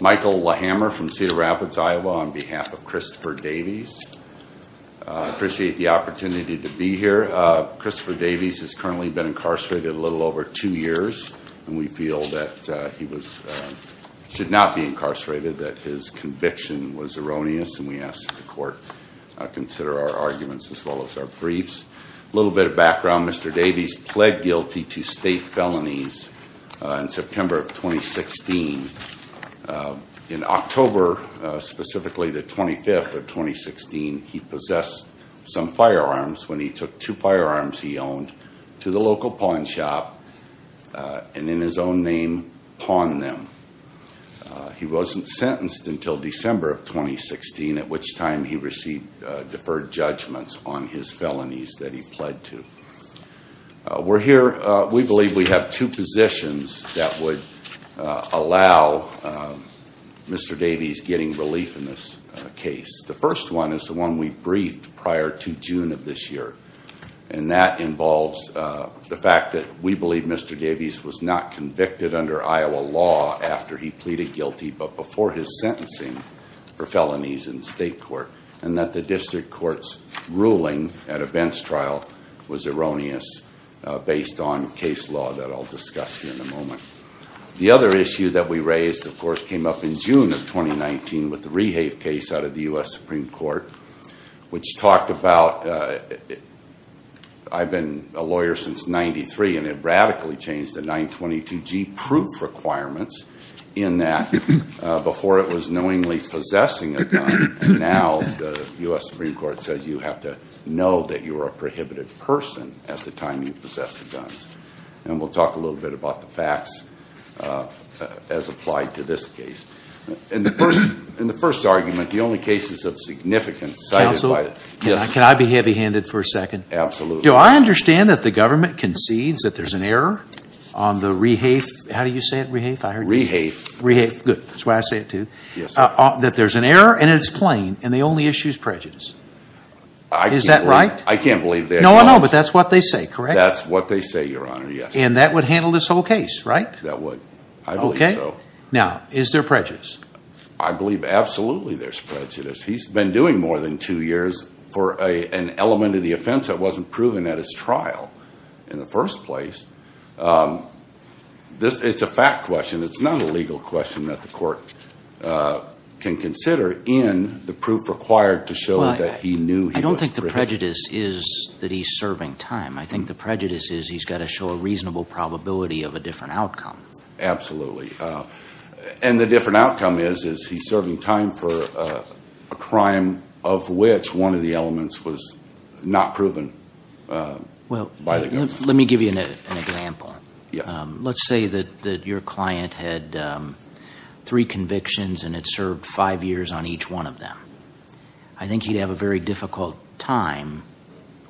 Michael Lehammer from Cedar Rapids, Iowa, on behalf of Christopher Davies. I appreciate the opportunity to be here. Christopher Davies has currently been incarcerated a little over two years and we feel that he should not be incarcerated, that his conviction was erroneous and we ask that the court consider our arguments as well as our briefs. A little bit of background, Mr. Davies pled guilty to state felonies in September of 2016. In October, specifically the 25th of 2016, he possessed some firearms when he took two firearms he owned to the local pawn shop and in his own name, pawned them. He wasn't sentenced until December of 2016. We're here, we believe we have two positions that would allow Mr. Davies getting relief in this case. The first one is the one we briefed prior to June of this year and that involves the fact that we believe Mr. Davies was not convicted under Iowa law after he pleaded guilty but before his sentencing for felonies in state court and that the district court's ruling at a bench trial was erroneous based on case law that I'll discuss in a moment. The other issue that we raised, of course, came up in June of 2019 with the Rehave case out of the U.S. Supreme Court which talked about, I've been a lawyer since 93 and it radically changed the 922G proof requirements in that before it was knowingly possessing a gun, now the U.S. Supreme Court says you have to know that you are a prohibited person at the time you possess a gun. And we'll talk a little bit about the facts as applied to this case. In the first argument, the only cases of significance cited by the… Counsel, can I be heavy handed for a second? Absolutely. Do I understand that the government concedes that there's an error on the Rehave, how do you say it, Rehave? Rehave. Rehave, good, that's why I say it too. That there's an error and it's plain and the only issue is prejudice. Is that right? I can't believe that. No, no, but that's what they say, correct? That's what they say, your honor, yes. And that would handle this whole case, right? That would, I believe so. Now, is there prejudice? I believe absolutely there's prejudice. He's been doing more than two years for an element of the offense that wasn't proven at his trial in the first place. It's a fact question, it's not a legal question that the court can consider in the proof required to show that he knew he was… I don't think the prejudice is that he's serving time. I think the prejudice is he's got to show a reasonable probability of a different outcome. Absolutely. And the different outcome is, is he's serving time for a crime of which one of the elements was not proven by the government. Let me give you an example. Let's say that your client had three convictions and it served five years on each one of them. I think he'd have a very difficult time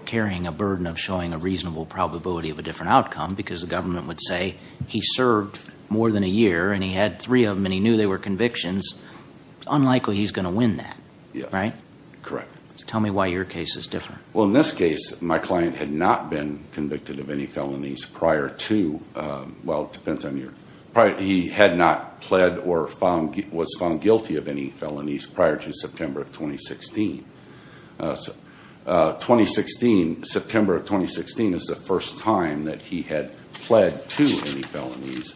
carrying a burden of showing a reasonable probability of a different outcome because the government would say he served more than a year and he had three of them and he knew they were convictions. It's unlikely he's going to win that, right? Correct. Tell me why your case is different. Well, in this case, my client had not been convicted of any felonies prior to… Well, it depends on your… He had not pled or was found guilty of any felonies prior to September of 2016. September of 2016 is the first time that he had pled to any felonies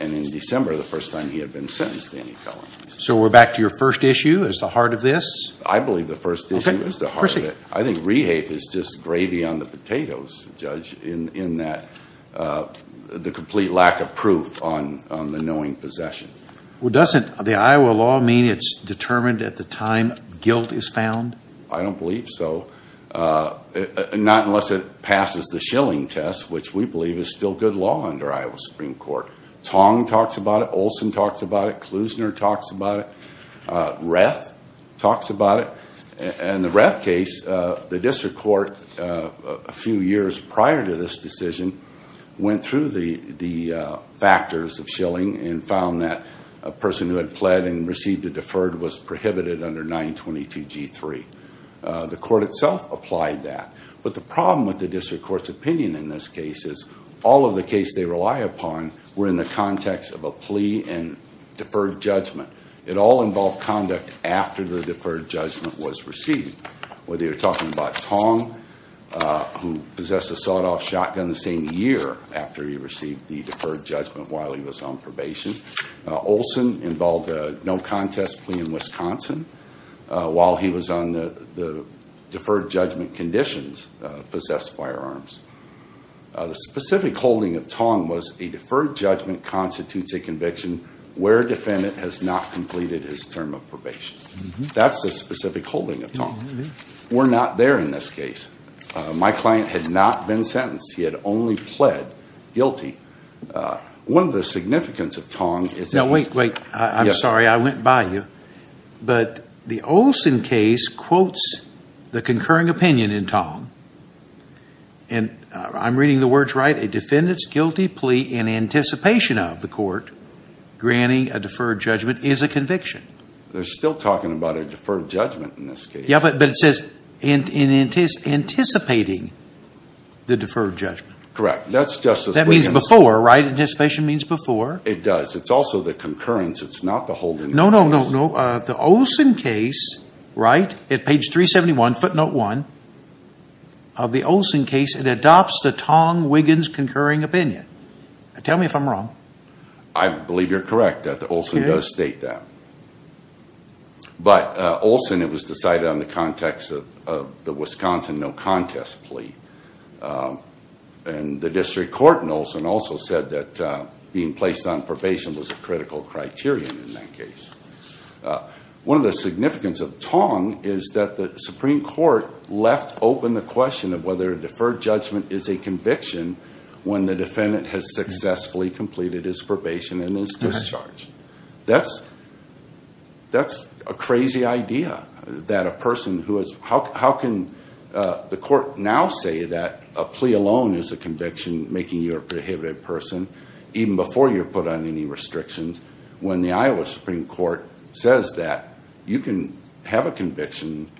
and in December the first time he had been sentenced to any felonies. So we're back to your first issue as the heart of this? I believe the first issue is the heart of it. I think rehafe is just gravy on the potatoes, Judge, in that the complete lack of proof on the knowing possession. Well, doesn't the Iowa law mean it's determined at the time guilt is found? I don't believe so. Not unless it passes the Schilling test, which we believe is still good law under Iowa Supreme Court. Tong talks about it. Olson talks about it. Klusner talks about it. Reth talks about it. In the Reth case, the district court, a few years prior to this decision, went through the factors of Schilling and found that a person who had pled and received a deferred was prohibited under 922G3. The court itself applied that. But the problem with the district court's opinion in this case is all of the cases they deferred judgment. It all involved conduct after the deferred judgment was received. Whether you're talking about Tong, who possessed a sawed-off shotgun the same year after he received the deferred judgment while he was on probation. Olson involved a no-contest plea in Wisconsin while he was on the deferred judgment conditions, possessed firearms. The specific holding of Tong was a deferred judgment constitutes a conviction where a defendant has not completed his term of probation. That's the specific holding of Tong. We're not there in this case. My client had not been sentenced. He had only pled guilty. One of the significance of Tong is... Now, wait, wait. I'm sorry. I went by you. But the Olson case quotes the concurring opinion in Tong. I'm reading the words right. A defendant's guilty plea in anticipation of the court granting a deferred judgment is a conviction. They're still talking about a deferred judgment in this case. Yeah, but it says in anticipating the deferred judgment. Correct. That's just as... That means before, right? Anticipation means before. It does. It's also the concurrence. It's not the holding... The Olson case, right? At page 371, footnote one of the Olson case, it adopts the Tong-Wiggins concurring opinion. Tell me if I'm wrong. I believe you're correct that the Olson does state that. But Olson, it was decided on the context of the Wisconsin no-contest plea. And the district court in Olson also said that being placed on probation was a critical criterion in that case. One of the significance of Tong is that the Supreme Court left open the question of whether a deferred judgment is a conviction when the defendant has successfully completed his probation and his discharge. That's a crazy idea that a person who has... How can the court now say that a plea alone is a conviction making you a prohibited person even before you're put under any restrictions when the Iowa Supreme Court says that you can have a conviction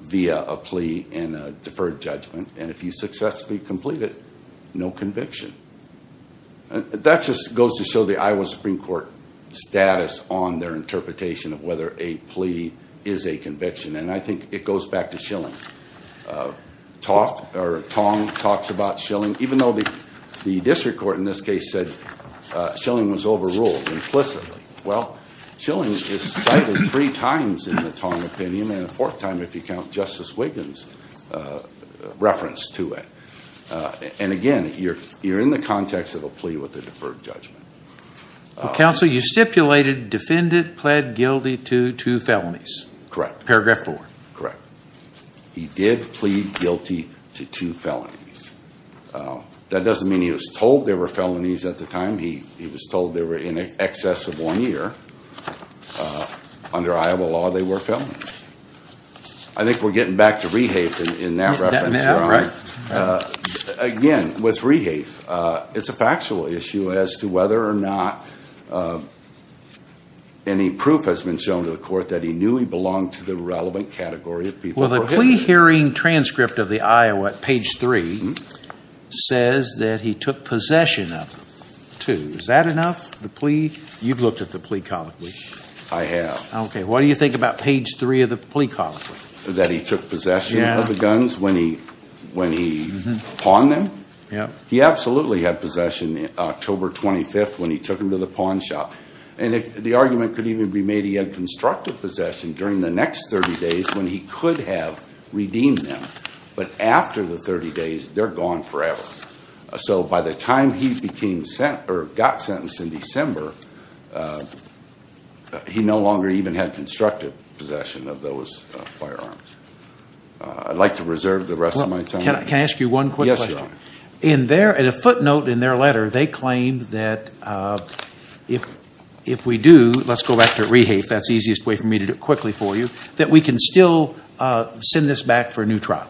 via a plea and a deferred judgment. And if you successfully complete it, no conviction. That just goes to show the Iowa Supreme Court status on their interpretation of whether a plea is a conviction. And I think it goes back to Schilling. Tong talks about Schilling, even though the district court in this case said Schilling was overruled implicitly. Well, Schilling is cited three times in the Tong opinion, and a fourth time if you count Justice Wiggins' reference to it. And again, you're in the context of a plea with a deferred judgment. Counsel, you stipulated defendant pled guilty to two felonies. Correct. Paragraph four. Correct. He did plead guilty to two felonies. That doesn't mean he was told there were felonies at the time. He was told they were in excess of one year. Under Iowa law, they were felonies. I think we're getting back to Rehafe in that reference. Again, with Rehafe, it's a factual issue as to whether or not any proof has been shown to the court that he knew he belonged to the relevant category of people. Well, the plea hearing transcript of the Iowa at page three says that he took possession of two. Is that enough? You've looked at the plea colloquy. I have. Okay. What do you think about page three of the plea colloquy? That he took possession of the guns when he pawned them? Yeah. He absolutely had possession October 25th when he took them to the pawn shop. The argument could even be made he had constructive possession during the next 30 days when he could have redeemed them. But after the 30 days, they're gone forever. So by the time he got sentenced in December, he no longer even had constructive possession of those firearms. I'd like to reserve the rest of my time. Can I ask you one quick question? Yes, Your Honor. At a footnote in their letter, they claimed that if we do, let's go back to rehafe, that's the easiest way for me to do it quickly for you, that we can still send this back for a new trial.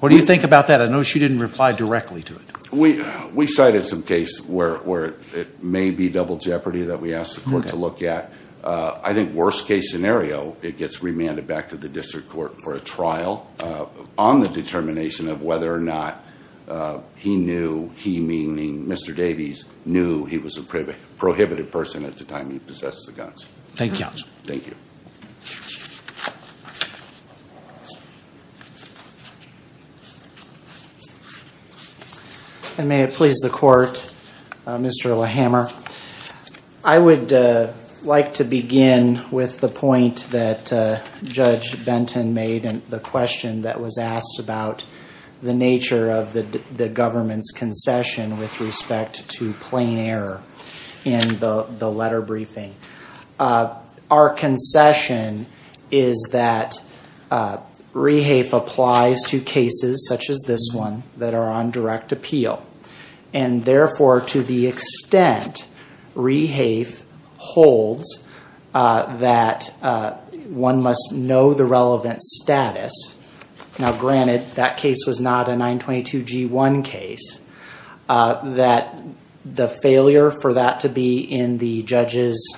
What do you think about that? I noticed you didn't reply directly to it. We cited some case where it may be double jeopardy that we asked the court to look at. I think worst case scenario, it gets remanded back to the district court for a trial on the determination of whether or not he knew, he meaning Mr. Davies, knew he was a prohibited person at the time he possessed the guns. Thank you, Your Honor. Thank you. And may it please the court, Mr. LaHammer, I would like to begin with the point that was asked about the nature of the government's concession with respect to plain error in the letter briefing. Our concession is that rehafe applies to cases such as this one that are on direct appeal. And therefore, to the extent rehafe holds that one must know the relevant status, now granted that case was not a 922 G1 case, that the failure for that to be in the judge's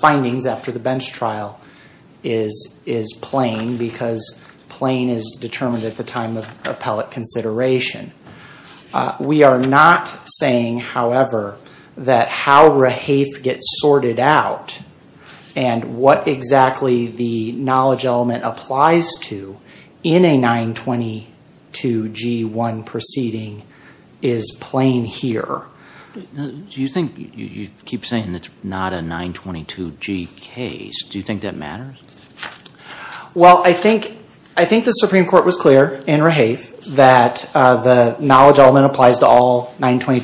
findings after the bench trial is plain because plain is determined at the time of appellate consideration. We are not saying, however, that how rehafe gets sorted out and what exactly the knowledge element applies to in a 922 G1 proceeding is plain here. Do you think, you keep saying it's not a 922 G case, do you think that matters? Well, I think the Supreme Court was clear in rehafe that the knowledge element applies to all illegal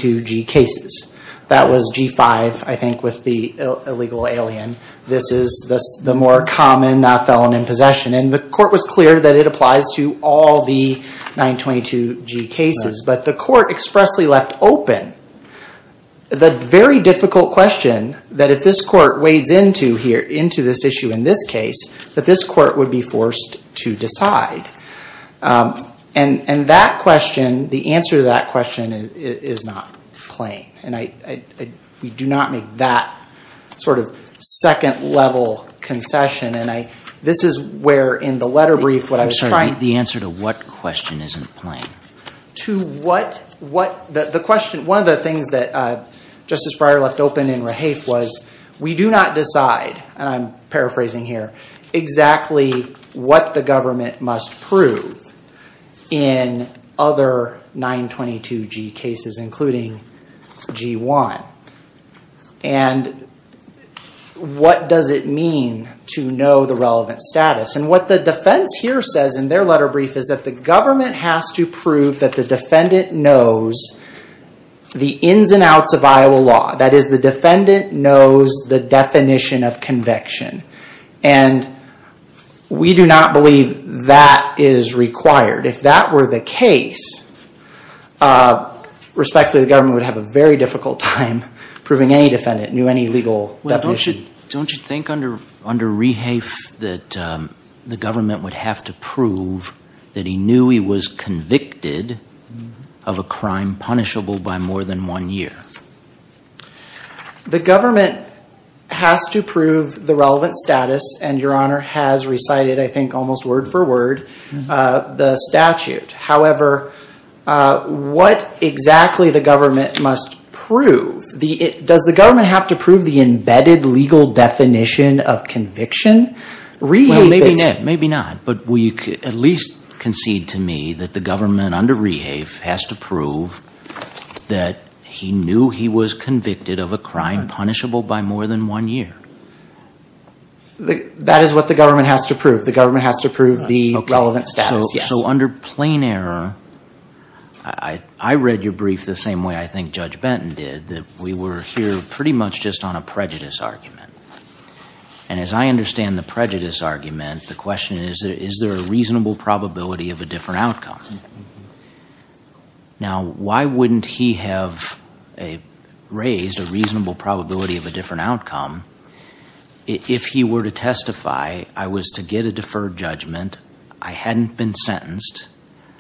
alien. This is the more common felon in possession. And the court was clear that it applies to all the 922 G cases. But the court expressly left open the very difficult question that if this court wades into here, into this issue in this case, that this court would be forced to decide. And that question, the answer to that question is not plain. And we do not make that sort of second level concession. And this is where in the letter brief, what I was trying... The answer to what question isn't plain? To what? The question, one of the things that Justice Breyer left open in rehafe was we do not exactly what the government must prove in other 922 G cases, including G1. And what does it mean to know the relevant status? And what the defense here says in their letter brief is that the government has to prove that the defendant knows the ins and outs of Iowa law. That is the defendant knows the definition of conviction. And we do not believe that is required. If that were the case, respectfully, the government would have a very difficult time proving any defendant knew any legal definition. Don't you think under rehafe that the government would have to prove that he knew he was convicted of a crime punishable by more than one year? The government has to prove the relevant status and your honor has recited, I think almost word for word, the statute. However, what exactly the government must prove? Does the government have to prove the embedded legal definition of conviction? Rehafe is... Maybe not. But will you at least concede to me that the government under rehafe has to prove that he knew he was convicted of a crime punishable by more than one year? That is what the government has to prove. The government has to prove the relevant status. So under plain error, I read your brief the same way I think Judge Benton did, that we were here pretty much just on a prejudice argument. And as I understand the prejudice argument, the question is, is there a reasonable probability of a different outcome? Now, why wouldn't he have raised a reasonable probability of a different outcome if he were to testify, I was to get a deferred judgment, I hadn't been sentenced,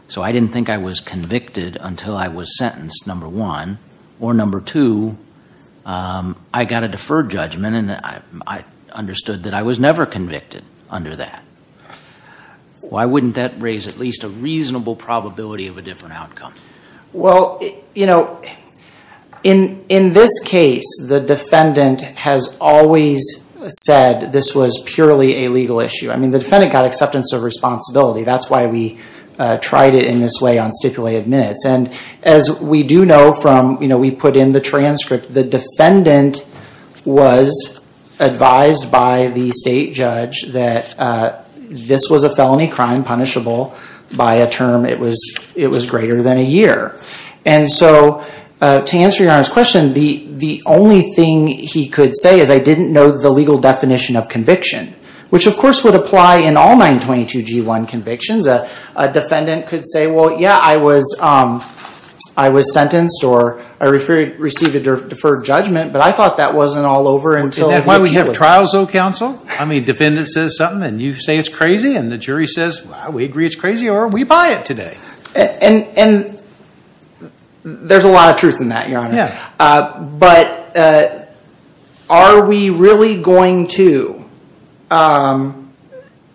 so I didn't think I was convicted until I was sentenced, number one. Or number two, I got a deferred judgment and I understood that I was never convicted under that. Why wouldn't that a reasonable probability of a different outcome? Well, in this case, the defendant has always said this was purely a legal issue. I mean, the defendant got acceptance of responsibility. That's why we tried it in this way on stipulated minutes. And as we do know from, we put in the transcript, the defendant was advised by the state judge that this was a felony crime punishable by a term, it was greater than a year. And so to answer your Honor's question, the only thing he could say is I didn't know the legal definition of conviction, which of course would apply in all 922g1 deferred judgment, but I thought that wasn't all over until... Isn't that why we have trials though, counsel? I mean, defendant says something and you say it's crazy and the jury says, well, we agree it's crazy or we buy it today. And there's a lot of truth in that, your Honor. But are we really going to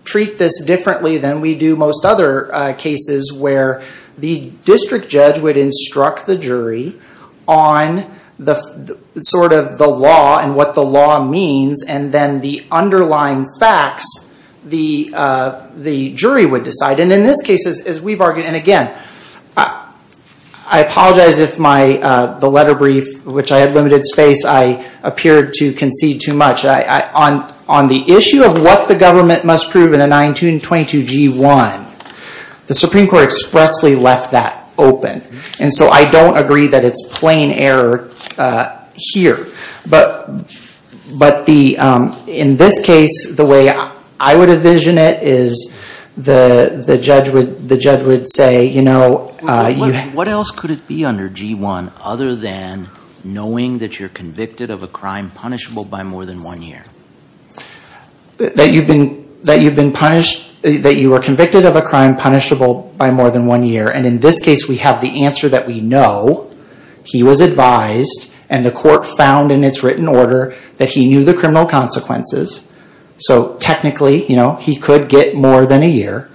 treat this differently than we do most other cases where the district judge would instruct the jury on the sort of the law and what the law means, and then the underlying facts the jury would decide. And in this case, as we've argued, and again, I apologize if the letter brief, which I had limited space, I appeared to concede too much. On the issue of what the government must prove in a 922g1, the Supreme Court expressly left that open. And so I don't agree that it's plain error here. But in this case, the way I would envision it is the judge would say... What else could it be under 922g1 other than knowing that you're convicted of a crime punishable by more than one year? That you've been that you've been punished, that you were convicted of a crime punishable by more than one year. And in this case, we have the answer that we know. He was advised and the court found in its written order that he knew the criminal consequences. So technically, you know, he could get more than a year.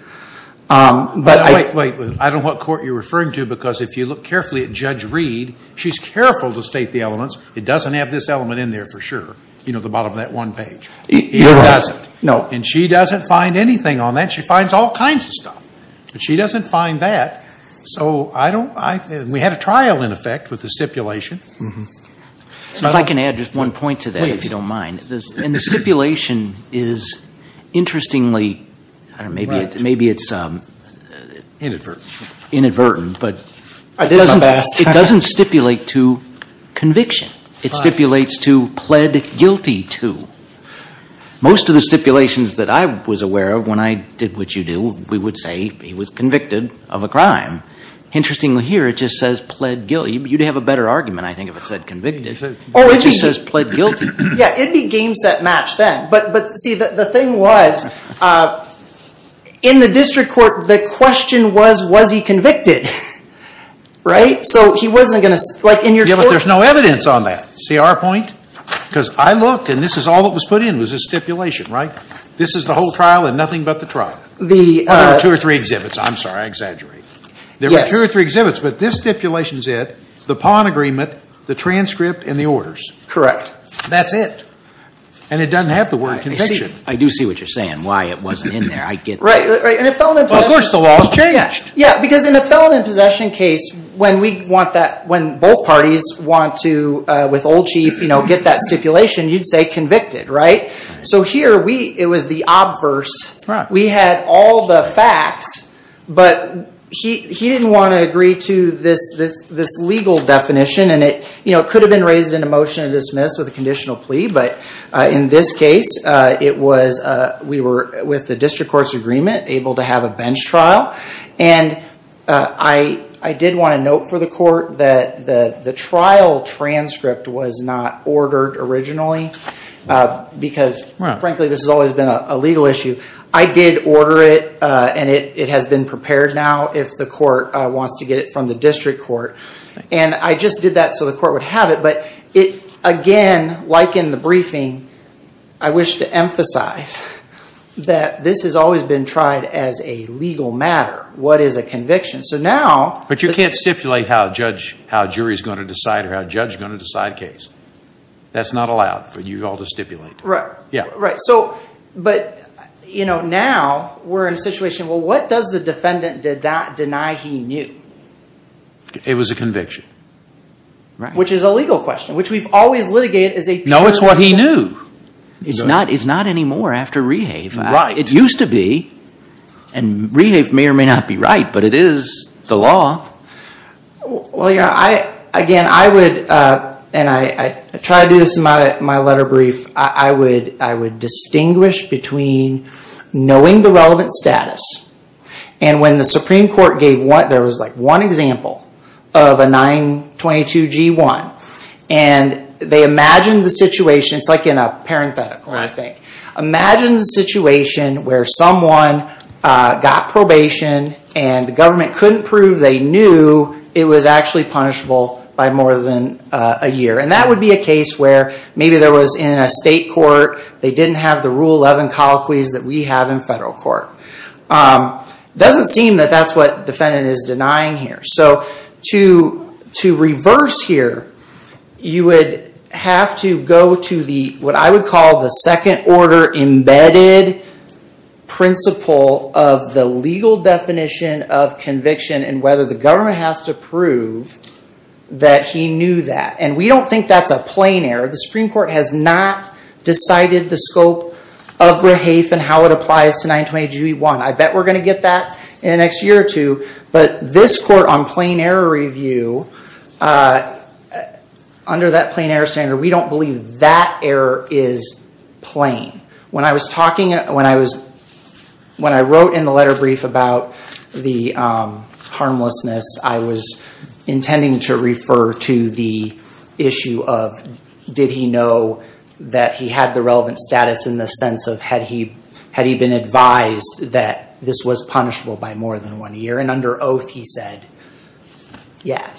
But I don't know what court you're referring to, because if you look carefully at Judge Reed, she's careful to state the elements. It doesn't have this element in there for sure. You know, the bottom of that one page. And she doesn't find anything on that. She finds all kinds of stuff. But she doesn't find that. So we had a trial, in effect, with the stipulation. So if I can add just one point to that, if you don't mind. And the stipulation is interestingly, maybe it's inadvertent, but it doesn't stipulate to conviction. It stipulates to pled guilty to. Most of the stipulations that I was aware of when I did what you do, we would say he was convicted of a crime. Interestingly here, it just says pled guilty. You'd have a better argument, I think, if it said convicted. It just says pled guilty. Yeah, it'd be game set match then. But see, the thing was, in the district court, the question was, was he convicted? Right? So he wasn't going to, like in your court. There's no evidence on that. See our point? Because I looked, and this is all that was put in was a stipulation, right? This is the whole trial and nothing but the trial. There were two or three exhibits. I'm sorry, I exaggerate. There were two or three exhibits, but this stipulation's it. The pawn agreement, the transcript, and the orders. Correct. That's it. And it doesn't have the word conviction. I do see what you're saying, why it wasn't in there. I get that. Right, right. And it fell in possession. Well, of course the law's changed. Yeah, because in a felon in possession case, when both parties want to, with old chief, get that stipulation, you'd say convicted, right? So here, it was the obverse. We had all the facts, but he didn't want to agree to this legal definition. And it could have been raised in a motion to dismiss with a conditional plea. But in this case, we were, with the district court's agreement, able to have a bench trial. And I did want to note for the court that the trial transcript was not ordered originally because, frankly, this has always been a legal issue. I did order it and it has been prepared now if the court wants to get it from the district court. And I just did that so the court would have it. But again, like in the briefing, I wish to emphasize that this has always been tried as a legal matter. What is a conviction? But you can't stipulate how a jury's going to decide or how a judge's going to decide a case. That's not allowed for you all to stipulate. Right, right. But now we're in a situation, well, what does the defendant deny he knew? It was a conviction. Which is a legal question, which we've always litigated as a true conviction. No, it's what he knew. It's not anymore after Rehave. It used to be. And Rehave may or may not be right, but it is the law. Well, again, I would, and I try to do this in my letter brief, I would distinguish between knowing the relevant status. And when the Supreme Court gave one, there was like one example of a 922 G1. And they imagined the situation, it's like in a parenthetical, I think. Imagine the situation where someone got probation and the government couldn't prove they knew it was actually punishable by more than a year. And that would be a case where maybe there was in a state court, they didn't have the Rule 11 colloquies that we have in federal court. Doesn't seem that that's what the defendant is denying here. So to reverse here, you would have to go to what I would call the second order embedded principle of the legal definition of conviction and whether the government has to prove that he knew that. And we don't think that's a plain error. The Supreme Court has not decided the scope of BRAHEAF and how it applies to 922 G1. I bet we're going to get that in the next year or two. But this court on plain error review, under that plain error standard, we don't believe that error is plain. When I was talking, when I was, when I wrote in the letter brief about the harmlessness, I was intending to refer to the issue of did he know that he had the relevant status in the sense of had he, had he been advised that this was punishable by more than one year. And under oath he said yes.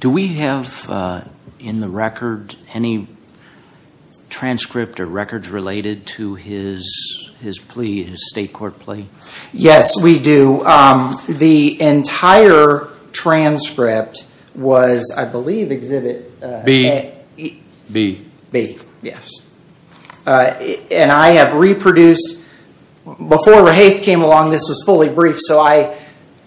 Do we have in the record any transcript or records related to his plea, his state court plea? Yes, we do. The entire transcript was, I believe, exhibit B. B. B, yes. And I have reproduced, before BRAHEAF came along, this was fully briefed. So I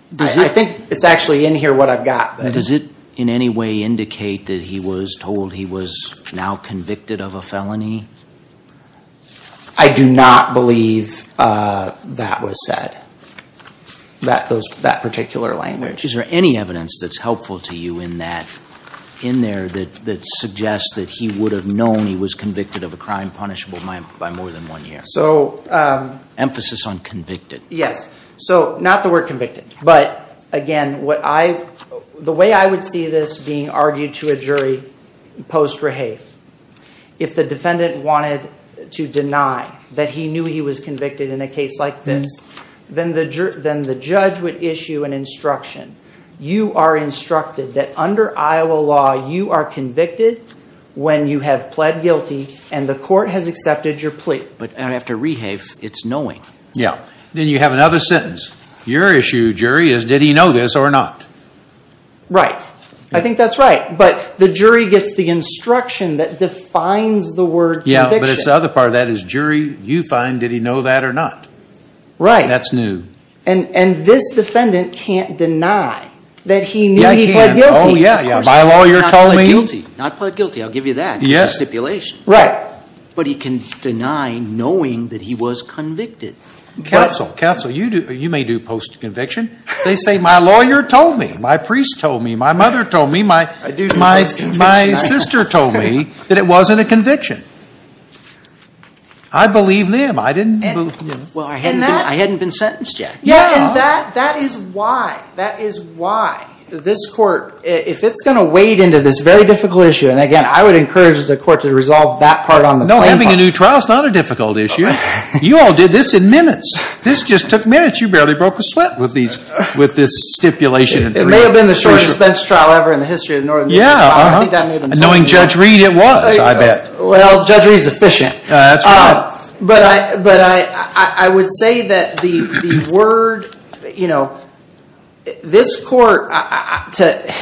think it's actually in here what I've got. Does it in any way indicate that he was told he was now convicted of a felony? I do not believe that was said, that those, that particular language. Is there any evidence that's helpful to you in that, in there that, that suggests that he would have known he was convicted of a crime punishable by more than one year? So, um. Emphasis on convicted. Yes. So, not the word convicted. But again, what I, the way I would see this being argued to a jury post-BRAHEAF, if the defendant wanted to deny that he knew he was convicted in a case like this, then the judge would issue an instruction. You are instructed that under Iowa law, you are convicted when you have pled guilty and the court has accepted your plea. But after BRAHEAF, it's knowing. Yeah. Then you have another sentence. Your issue, jury, is did he know this or not? Right. I think that's right. But the jury gets the instruction that defines the word conviction. Yeah. But it's the other part of that is jury, you find, did he know that or not? Right. That's new. And, and this defendant can't deny that he knew he pled guilty. Oh, yeah, yeah. My lawyer told me. Of course, not pled guilty. Not pled guilty. I'll give you that. Yes. It's a stipulation. Right. But he can deny knowing that he was convicted. Counsel, counsel, you do, you may do post-conviction. They say, my lawyer told me, my priest told me, my mother told me, my, my sister told me that it wasn't a conviction. I believe them. I didn't believe them. Well, I hadn't been, I hadn't been sentenced yet. Yeah. And that, that is why, that is why this court, if it's going to wade into this very difficult issue, and again, I would encourage the court to resolve that part on the plaintiff. No, having a new trial is not a difficult issue. You all did this in minutes. This just took minutes. You barely broke a sweat with these, with this stipulation. It may have been the shortest bench trial ever in the history of the Northern Union. Yeah. I don't think that made a mistake. Knowing Judge Reed, it was, I bet. Well, Judge Reed's efficient. That's right. But I, but I, I would say that the, the word, you know, this court, to,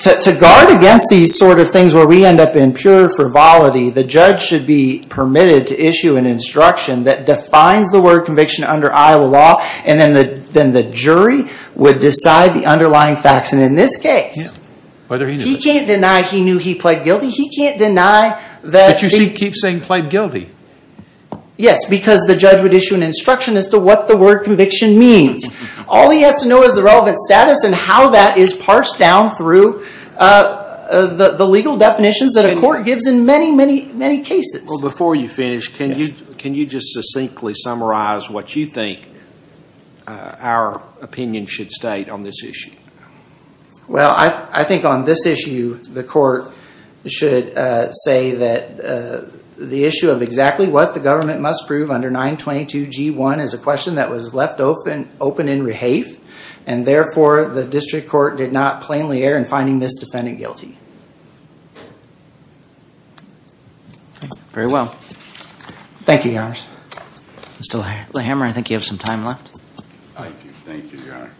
to, to guard against these sort of things where we end up in pure frivolity, the judge should be permitted to and then the, then the jury would decide the underlying facts. And in this case. Yeah. Whether he knew. He can't deny he knew he pled guilty. He can't deny that. But you see, he keeps saying pled guilty. Yes, because the judge would issue an instruction as to what the word conviction means. All he has to know is the relevant status and how that is parsed down through the legal definitions that a court gives in many, many, many cases. Before you finish, can you, can you just succinctly summarize what you think our opinion should state on this issue? Well, I, I think on this issue, the court should say that the issue of exactly what the government must prove under 922 G1 is a question that was left open, open in rehafe. And therefore the district court did not plainly err in finding this defendant guilty. Okay. Very well. Thank you, Your Honor. Mr. Lehammer, I think you have some time left. Thank you. Thank you, Your Honor.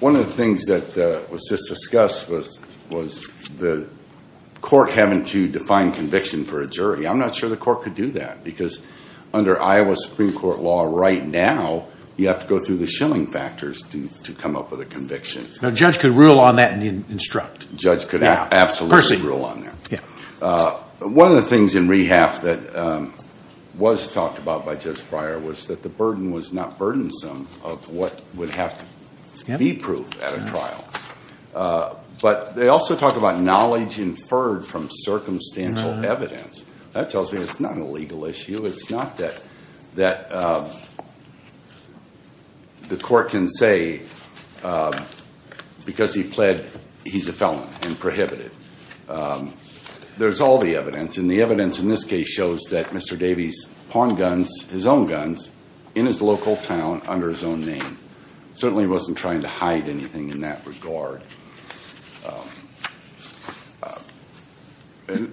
One of the things that was just discussed was, was the court having to define conviction for a jury. I'm not sure the court could do that because under Iowa Supreme Court law right now, you have to go through the Schilling factors to, to come up with a conviction. Judge could rule on that and instruct. Judge could absolutely rule on that. One of the things in rehafe that was talked about by Judge Breyer was that the burden was not burdensome of what would have to be proved at a trial. But they also talk about knowledge inferred from circumstantial evidence. That tells me it's not a legal issue. It's not that, that the court can say because he pled, he's a felon and prohibited. There's all the evidence and the evidence in this case shows that Mr. Davies pawned guns, his own guns in his local town under his own name. Certainly wasn't trying to hide anything in that regard.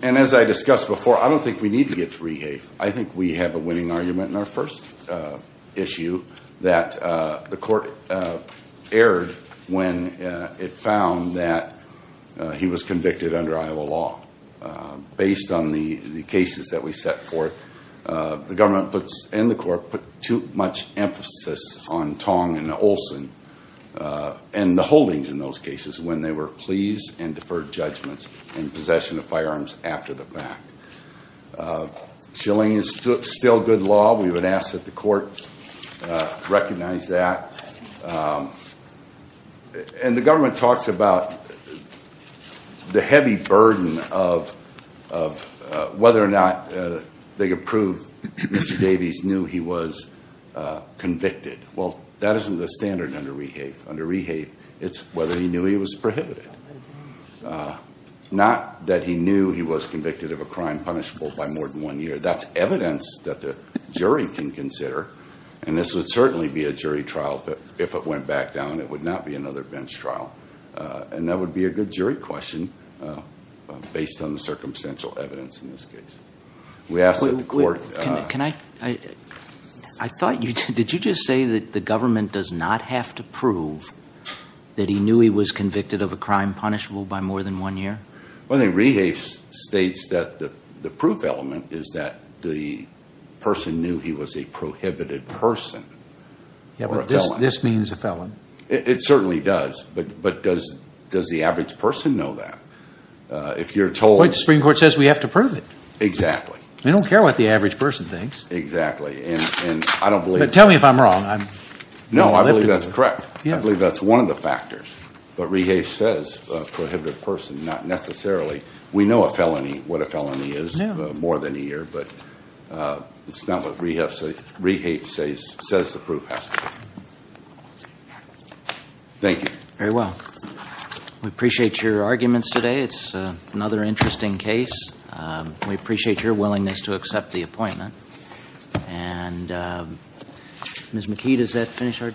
And as I discussed before, I don't think we need to get to rehafe. I think we have a winning argument in our first issue that the court erred when it found that he was convicted under Iowa law. Based on the cases that we set forth, the government and the court put too much emphasis on Tong and Olson and the holdings in those cases when they were pleased and deferred judgments in possession of firearms after the fact. Chilling is still good law. We would ask that the court recognize that. And the government talks about the heavy burden of whether or not they could prove Mr. Davies knew he was convicted. Well, that isn't the standard under rehafe. Under rehafe, it's whether he knew he was prohibited. Not that he knew he was convicted of a crime punishable by more than one year. That's evidence that the jury can consider. And this would certainly be a jury trial, but if it went back down, it would not be another bench trial. And that would be a good jury question based on the circumstantial evidence in this case. We ask that the court- That he knew he was convicted of a crime punishable by more than one year? Well, the rehafe states that the proof element is that the person knew he was a prohibited person. This means a felon. It certainly does. But does the average person know that? If you're told- The Supreme Court says we have to prove it. Exactly. They don't care what the average person thinks. Exactly. And I don't believe- Tell me if I'm wrong. No, I believe that's correct. I believe that's one of the factors. But rehafe says a prohibited person, not necessarily. We know a felony, what a felony is, more than a year, but it's not what rehafe says the proof has to be. Thank you. Very well. We appreciate your arguments today. It's another interesting case. We appreciate your willingness to accept the appointment. And Ms. McKee, does that finish our-